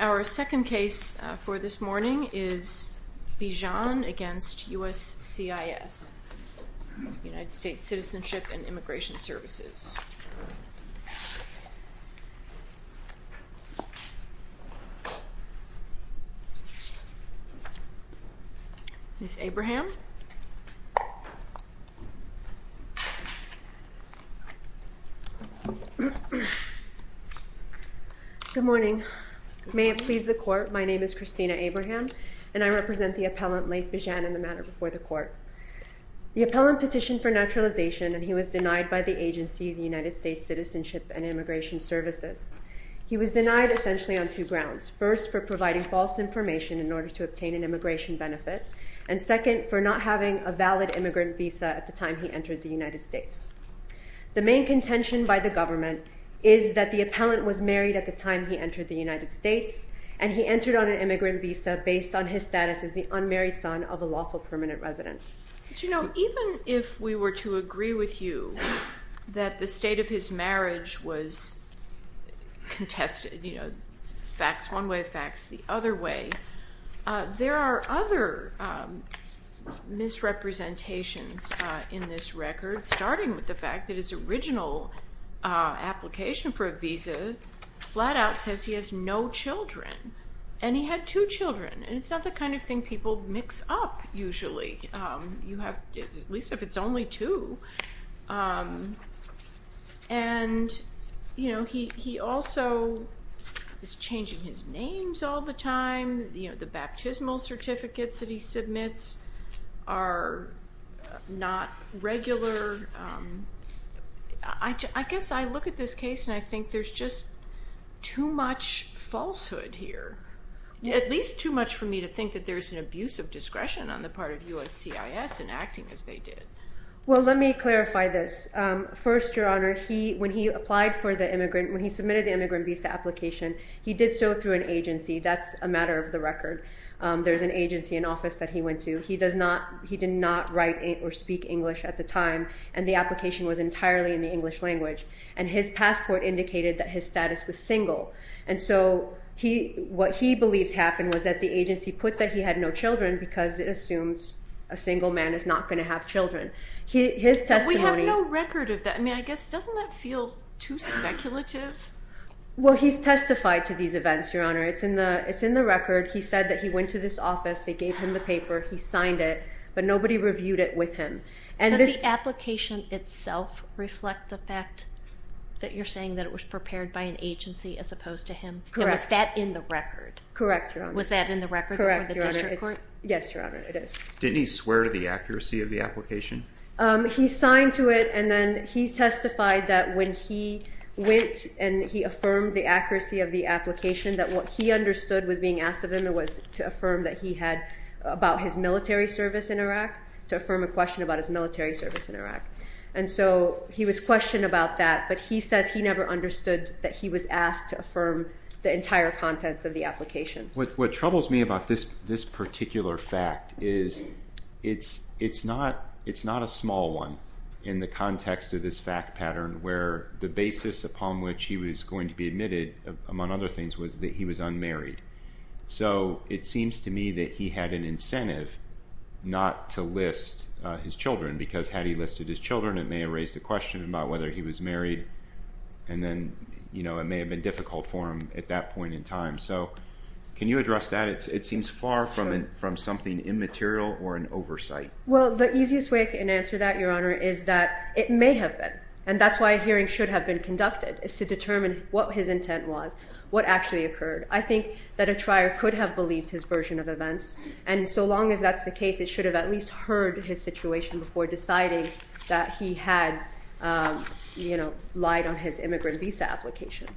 Our second case for this morning is Bijan v. USCIS, United States Citizenship and Immigration Good morning. May it please the Court, my name is Christina Abraham and I represent the appellant Laith Bijan in the matter before the Court. The appellant petitioned for naturalization and he was denied by the agency, the United States Citizenship and Immigration Services. He was denied essentially on two grounds. First, for providing false information in order to obtain an immigration benefit. And second, for not having a valid immigrant visa at the time he entered the United States. The main contention by the government is that the appellant was married at the time he entered the United States and he entered on an immigrant visa based on his status as the unmarried son of a lawful permanent resident. But you know, even if we were to agree with you that the state of his marriage was contested, you know, facts one way or facts the other way, there are other misrepresentations in this record, starting with the fact that his original application for a visa flat out says he has no children. And he had two children. And it's not the kind of thing people mix up usually. You have, at least if it's only two. And you know, he also is changing his names all the time. You know, the baptismal certificates that he submits are not regular. I guess I look at this case and I think there's just too much falsehood here. At least too much for me to think that there's an abuse of discretion on the part of USCIS in acting as they did. Well, let me clarify this. First, Your Honor, when he applied for the immigrant, when he submitted the immigrant visa application, he did so through an agency. That's a matter of the record. There's an agency, an office that he went to. He did not write or speak English at the time. And the application was entirely in the English language. And his passport indicated that his status was single. And so what he believes happened was that the agency put that he had no children because it assumes a single man is not going to have children. His testimony... But we have no record of that. I mean, I guess, doesn't that feel too speculative? Well, he's testified to these events, Your Honor. It's in the record. He said that he went to this office. They gave him the paper. He signed it. But nobody reviewed it with him. Does the application itself reflect the fact that you're saying that it was prepared by an agency as opposed to him? Correct. And was that in the record? Correct, Your Honor. Was that in the record before the district court? Yes, Your Honor. It is. Didn't he swear to the accuracy of the application? He signed to it. And then he testified that when he went and he affirmed the accuracy of the application, that what he understood was being asked of him was to affirm that he had about his military service in Iraq, to affirm a question about his military service in Iraq. And so he was questioned about that. But he says he never understood that he was asked to affirm the entire contents of the application. What troubles me about this particular fact is it's not a small one in the context of this fact pattern where the basis upon which he was going to be admitted, among other things, was that he was unmarried. So it seems to me that he had an incentive not to list his children because had he listed his children, it may have raised a question about whether he was married. And then, you know, it may have been difficult for him at that point in time. So can you address that? It seems far from something immaterial or an oversight. Well, the easiest way I can answer that, Your Honor, is that it may have been. And that's why a hearing should have been conducted, is to determine what his intent was, what actually occurred. I think that a trier could have believed his version of events. And so long as that's the case, it should have at least heard his situation before deciding that he had, you know, lied on his immigrant visa application.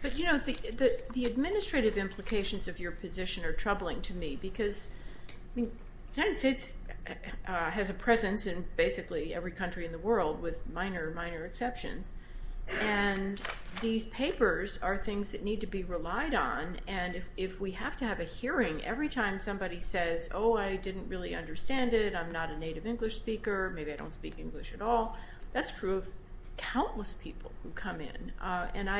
But, you know, the administrative implications of your position are troubling to me because the United States has a presence in basically every country in the world with minor, minor exceptions. And these papers are things that need to be relied on. And if we have to have a hearing every time somebody says, oh, I didn't really understand it, I'm not a native English speaker, maybe I don't speak English at all, that's true of countless people who come in. And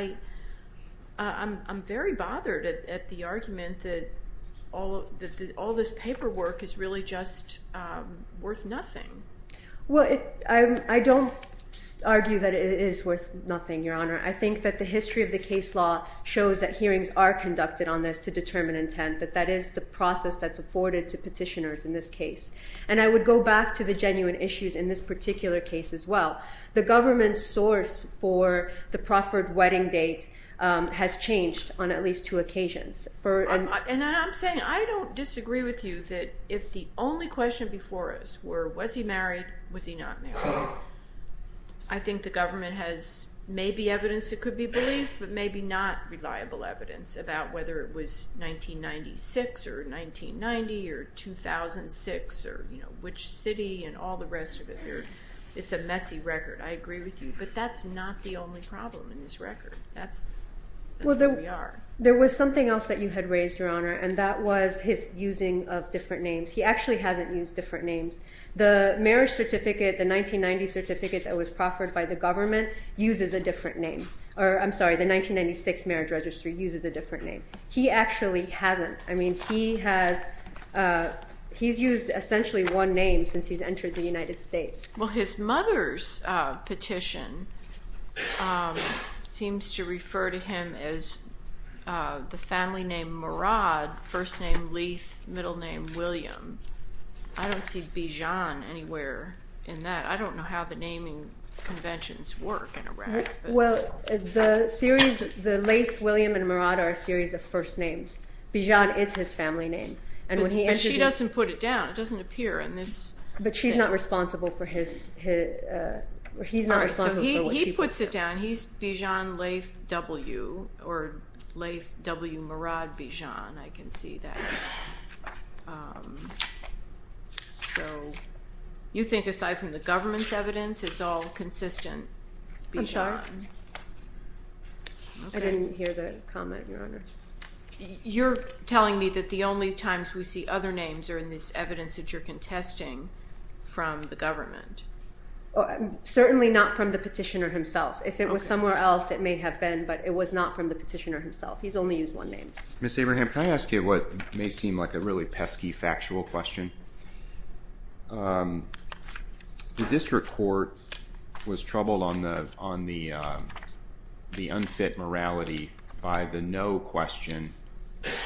I'm very bothered at the argument that all this paperwork is really just worth nothing. Well, I don't argue that it is worth nothing, Your Honor. I think that the history of the case law shows that hearings are conducted on this to determine intent, that that is the process that's afforded to petitioners in this case. And I would go back to the genuine issues in this particular case as well. The government's source for the proffered wedding date has changed on at least two occasions. And I'm saying I don't disagree with you that if the only question before us were was he married, was he not married, I think the government has maybe evidence that could be believed, but maybe not reliable evidence about whether it was 1996 or 1990 or 2006 or, you know, which city and all the rest of it. It's a messy record. I agree with you. But that's not the only problem in this record. That's where we are. Well, there was something else that you had raised, Your Honor, and that was his using of different names. He actually hasn't used different names. The marriage certificate, the 1990 certificate that was proffered by the government uses a different name. I'm sorry, the 1996 marriage registry uses a different name. He actually hasn't. I mean, he has used essentially one name since he's entered the United States. Well, his mother's petition seems to refer to him as the family name Murad, first name Leith, middle name William. I don't see Bijan anywhere in that. I don't know how the naming conventions work in Iraq. Well, the series, the Leith, William, and Murad are a series of first names. Bijan is his family name. And she doesn't put it down. It doesn't appear in this. But she's not responsible for his or he's not responsible for what she puts down. He puts it down. He's Bijan Leith W. Or Leith W. Murad Bijan. I can see that. So you think aside from the government's evidence, it's all consistent? I'm sorry? I didn't hear the comment, Your Honor. You're telling me that the only times we see other names are in this evidence that you're contesting from the government. Certainly not from the petitioner himself. If it was somewhere else, it may have been. But it was not from the petitioner himself. He's only used one name. Ms. Abraham, can I ask you what may seem like a really pesky factual question? The district court was troubled on the unfit morality by the no question,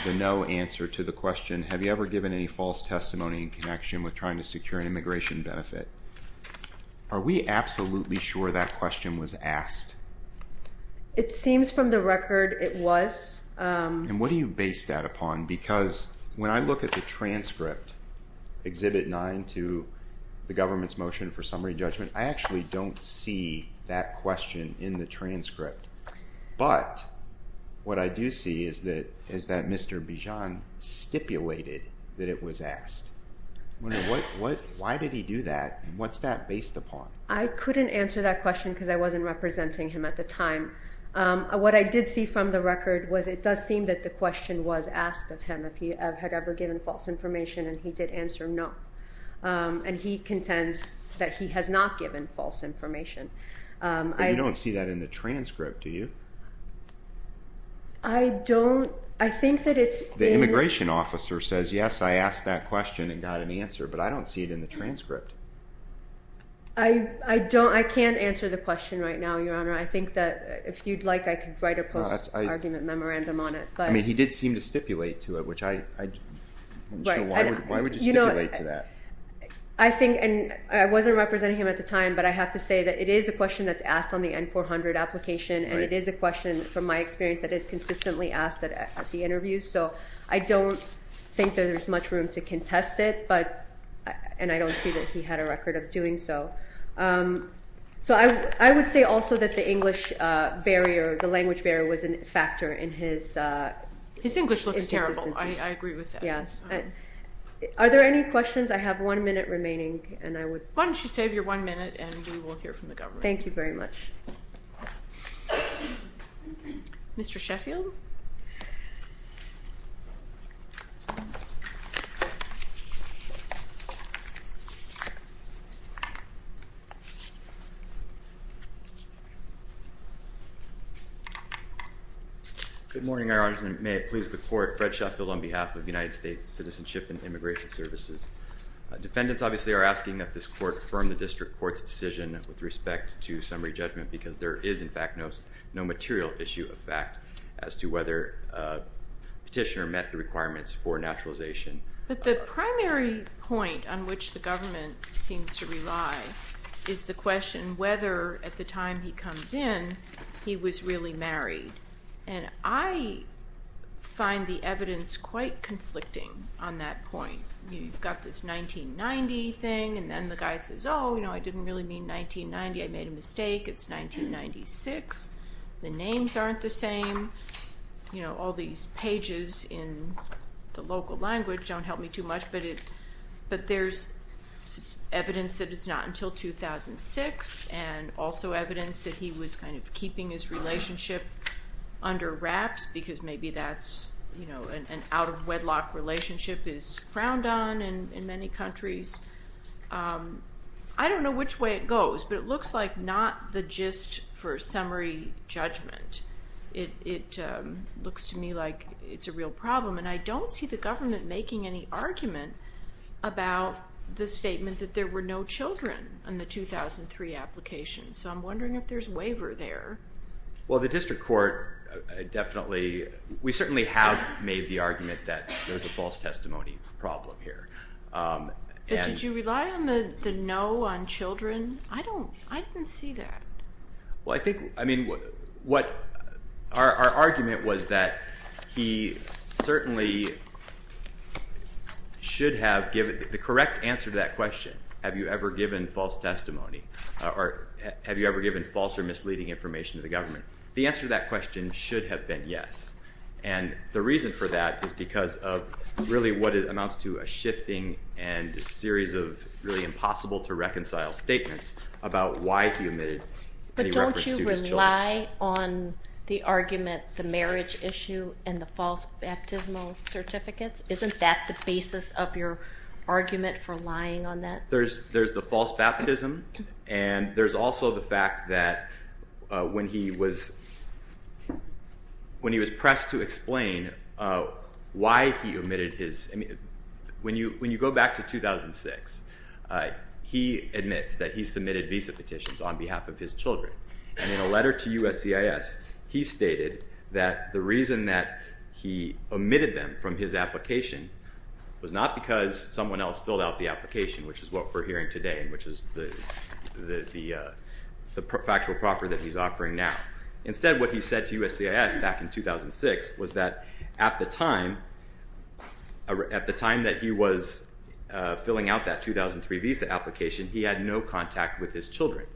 the no answer to the question, have you ever given any false testimony in connection with trying to secure an immigration benefit? Are we absolutely sure that question was asked? It seems from the record it was. And what do you base that upon? Because when I look at the transcript, Exhibit 9 to the government's motion for summary judgment, I actually don't see that question in the transcript. But what I do see is that Mr. Bijan stipulated that it was asked. Why did he do that? What's that based upon? I couldn't answer that question because I wasn't representing him at the time. What I did see from the record was it does seem that the question was asked of him, if he had ever given false information, and he did answer no. And he contends that he has not given false information. But you don't see that in the transcript, do you? I don't. I think that it's in. The immigration officer says, yes, I asked that question and got an answer. But I don't see it in the transcript. I don't. I can't answer the question right now, Your Honor. I think that if you'd like, I could write a post-argument memorandum on it. I mean, he did seem to stipulate to it, which I'm not sure why would you stipulate to that. I think, and I wasn't representing him at the time, but I have to say that it is a question that's asked on the N-400 application, and it is a question, from my experience, that is consistently asked at the interview. So I don't think that there's much room to contest it, and I don't see that he had a record of doing so. So I would say also that the English barrier, the language barrier, was a factor in his consistency. His English looks terrible. I agree with that. Yes. Are there any questions? I have one minute remaining, and I would. Why don't you save your one minute, and we will hear from the government. Thank you very much. Mr. Sheffield? Good morning, Your Honor. May it please the Court. Fred Sheffield on behalf of the United States Citizenship and Immigration Services. Defendants, obviously, are asking that this Court affirm the District Court's decision with respect to summary judgment because there is, in fact, no material issue of fact as to whether Petitioner met the requirements for naturalization. But the primary point on which the government seems to rely is on the fact that, is the question whether, at the time he comes in, he was really married. And I find the evidence quite conflicting on that point. You've got this 1990 thing, and then the guy says, oh, you know, I didn't really mean 1990. I made a mistake. It's 1996. The names aren't the same. You know, all these pages in the local language don't help me too much, but there's evidence that it's not until 2006, and also evidence that he was kind of keeping his relationship under wraps because maybe that's, you know, an out-of-wedlock relationship is frowned on in many countries. I don't know which way it goes, but it looks like not the gist for summary judgment. It looks to me like it's a real problem, and I don't see the government making any argument about the statement that there were no children in the 2003 application. So I'm wondering if there's a waiver there. Well, the district court definitely, we certainly have made the argument that there's a false testimony problem here. But did you rely on the no on children? I don't, I didn't see that. Well, I think, I mean, what our argument was that he certainly should have given the correct answer to that question, have you ever given false testimony or have you ever given false or misleading information to the government. The answer to that question should have been yes, and the reason for that is because of really what amounts to a shifting and a series of really impossible to reconcile statements about why he omitted any reference to his children. But don't you rely on the argument, the marriage issue and the false baptismal certificates? Isn't that the basis of your argument for lying on that? There's the false baptism, and there's also the fact that when he was pressed to explain why he omitted his, I mean, when you go back to 2006, he admits that he submitted visa petitions on behalf of his children. And in a letter to USCIS, he stated that the reason that he omitted them from his application was not because someone else filled out the application, which is what we're hearing today and which is the factual proffer that he's offering now. Instead, what he said to USCIS back in 2006 was that at the time that he was filling out that 2003 visa application, he had no contact with his children.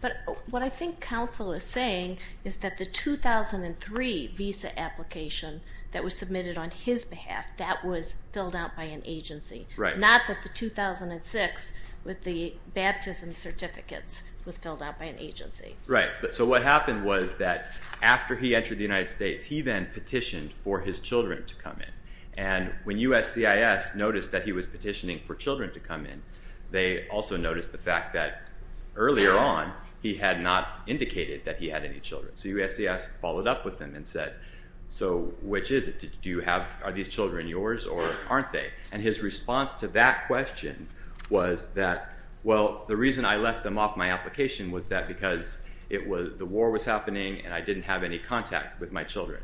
But what I think counsel is saying is that the 2003 visa application that was submitted on his behalf, that was filled out by an agency, not that the 2006 with the baptism certificates was filled out by an agency. Right. So what happened was that after he entered the United States, he then petitioned for his children to come in. And when USCIS noticed that he was petitioning for children to come in, they also noticed the fact that earlier on he had not indicated that he had any children. So USCIS followed up with him and said, so which is it? Do you have, are these children yours or aren't they? And his response to that question was that, well, the reason I left them off my application was that because the war was happening and I didn't have any contact with my children.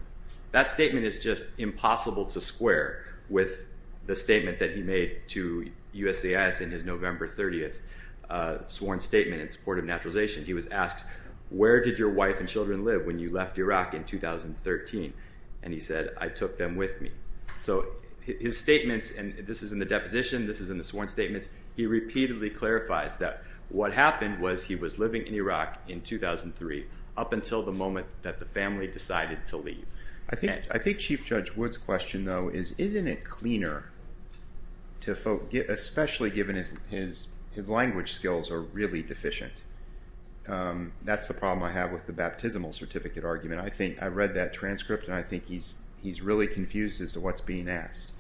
That statement is just impossible to square with the statement that he made to USCIS in his November 30th sworn statement in support of naturalization. He was asked, where did your wife and children live when you left Iraq in 2013? And he said, I took them with me. So his statements, and this is in the deposition, this is in the sworn statements, he repeatedly clarifies that what happened was he was living in Iraq in 2003 up until the moment that the family decided to leave. I think Chief Judge Wood's question though is, isn't it cleaner to folk, especially given his language skills are really deficient? That's the problem I have with the baptismal certificate argument. I think I read that transcript and I think he's really confused as to what's being asked.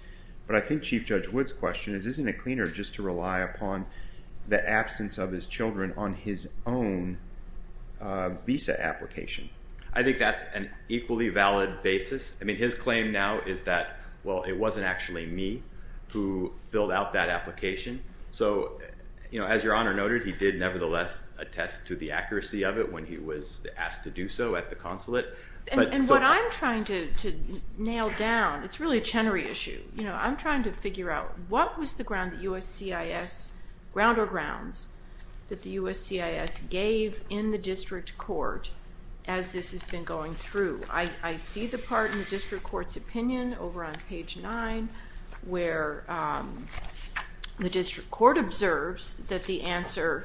But I think Chief Judge Wood's question is, isn't it cleaner just to rely upon the absence of his children on his own visa application? I think that's an equally valid basis. I mean, his claim now is that, well, it wasn't actually me who filled out that application. So, you know, as Your Honor noted, he did nevertheless attest to the accuracy of it when he was asked to do so at the consulate. And what I'm trying to nail down, it's really a Chenery issue. You know, I'm trying to figure out what was the ground that USCIS, ground or grounds, that the USCIS gave in the district court as this has been going through. I see the part in the district court's opinion over on page 9 where the district court observes that the answer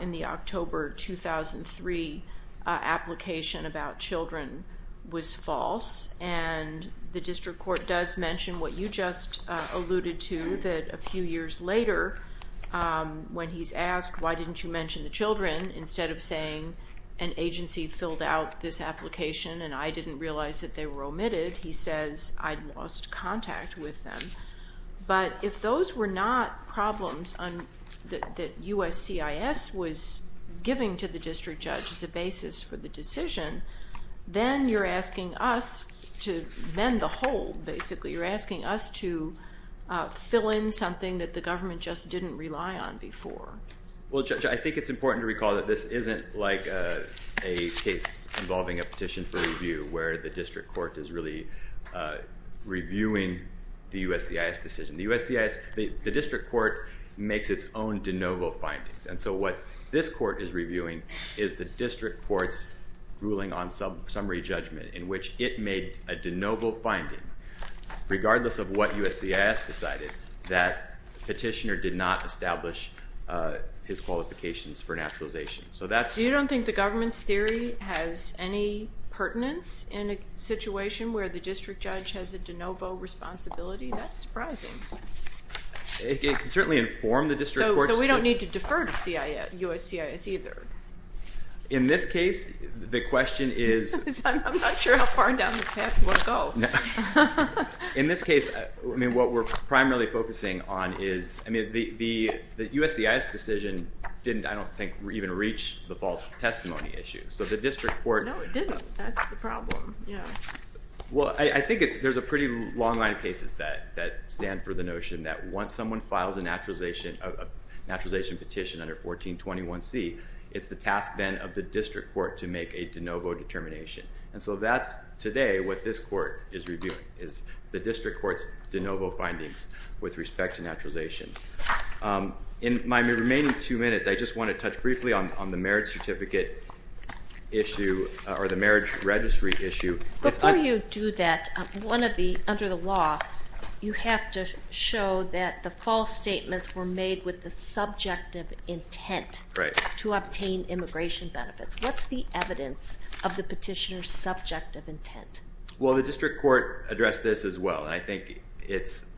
in the October 2003 application to the children was false and the district court does mention what you just alluded to, that a few years later when he's asked, why didn't you mention the children, instead of saying an agency filled out this application and I didn't realize that they were omitted, he says I'd lost contact with them. But if those were not problems that USCIS was giving to the district judge as a basis for the decision, then you're asking us to mend the hold, basically. You're asking us to fill in something that the government just didn't rely on before. Well, Judge, I think it's important to recall that this isn't like a case involving a petition for review where the district court is really reviewing the USCIS decision. The district court makes its own de novo findings and so what this court is reviewing is the district court's ruling on summary judgment in which it made a de novo finding, regardless of what USCIS decided, that the petitioner did not establish his qualifications for naturalization. So you don't think the government's theory has any pertinence in a situation where the district judge has a de novo responsibility? That's surprising. It can certainly inform the district court's view. So we don't need to defer to USCIS either? In this case, the question is... I'm not sure how far down this path you want to go. In this case, what we're primarily focusing on is, I mean, the USCIS decision didn't, I don't think, even reach the false testimony issue. So the district court... No, it didn't. That's the problem, yeah. Well, I think there's a pretty long line of cases that stand for the notion that once someone files a naturalization petition under 1421C, it's the task then of the district court to make a de novo determination. And so that's, today, what this court is reviewing is the district court's de novo findings with respect to naturalization. In my remaining two minutes, I just want to touch briefly on the marriage certificate issue or the marriage registry issue. Before you do that, under the law, you have to show that the false statements were made with the subjective intent to obtain immigration benefits. What's the evidence of the petitioner's subjective intent? Well, the district court addressed this as well, and I think it's...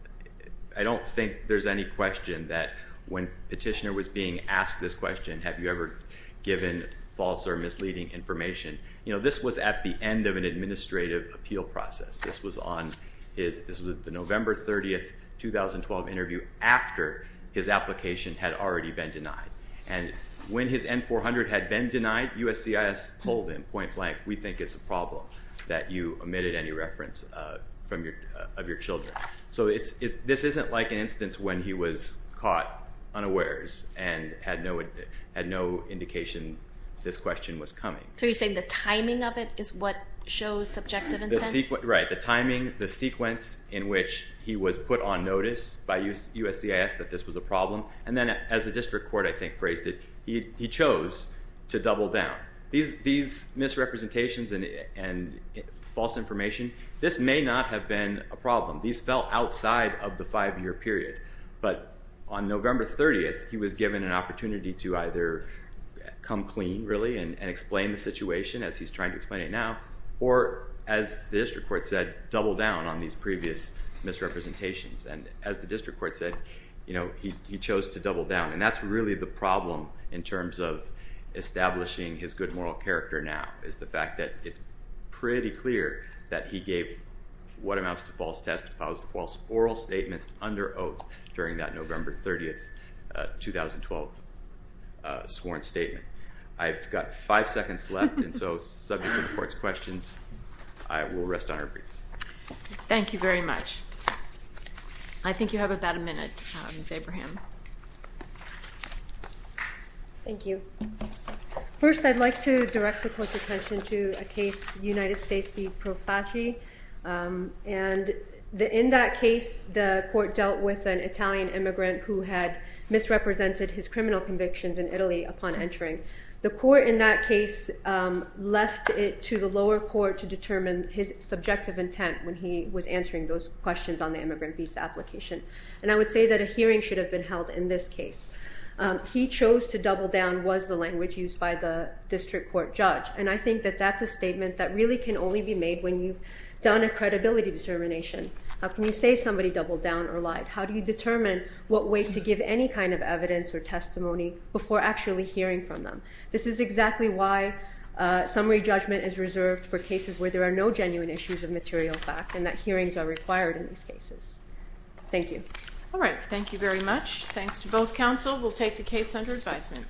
I don't think there's any question that when the petitioner was being asked this question, have you ever given false or misleading information? You know, this was at the end of an administrative appeal process. This was on his... This was at the November 30, 2012 interview after his application had already been denied. And when his N-400 had been denied, USCIS told him point blank, we think it's a problem that you omitted any reference of your children. So this isn't like an instance when he was caught unawares and had no indication this question was coming. So you're saying the timing of it is what shows subjective intent? Right. The timing, the sequence in which he was put on notice by USCIS that this was a problem, and then as the district court, I think, phrased it, he chose to double down. These misrepresentations and false information, this may not have been a problem. These fell outside of the five-year period. But on November 30, he was given an opportunity to either come clean, really, and explain the situation, as he's trying to explain it now, or, as the district court said, double down on these previous misrepresentations. And as the district court said, you know, he chose to double down, and that's really the problem in terms of establishing his good moral character now, is the fact that it's pretty clear that he gave what amounts to false testimony, false oral statements under oath during that November 30, 2012, sworn statement. I've got five seconds left, and so subject to the court's questions, I will rest on our briefs. Thank you very much. I think you have about a minute, Mr. Abraham. Thank you. First, I'd like to direct the court's attention to a case, United States v. Profaci. And in that case, the court dealt with an Italian immigrant who had misrepresented his criminal convictions in Italy upon entering. The court in that case left it to the lower court to determine his subjective intent when he was answering those questions on the immigrant visa application. And I would say that a hearing should have been held in this case. He chose to double down was the language used by the district court judge. And I think that that's a statement that really can only be made when you've done a credibility determination. How can you say somebody doubled down or lied? How do you determine what way to give any kind of evidence or testimony before actually hearing from them? This is exactly why summary judgment is reserved for cases where there are no genuine issues of material fact and that hearings are required in these cases. Thank you. All right, thank you very much. Counsel will take the case under advisement.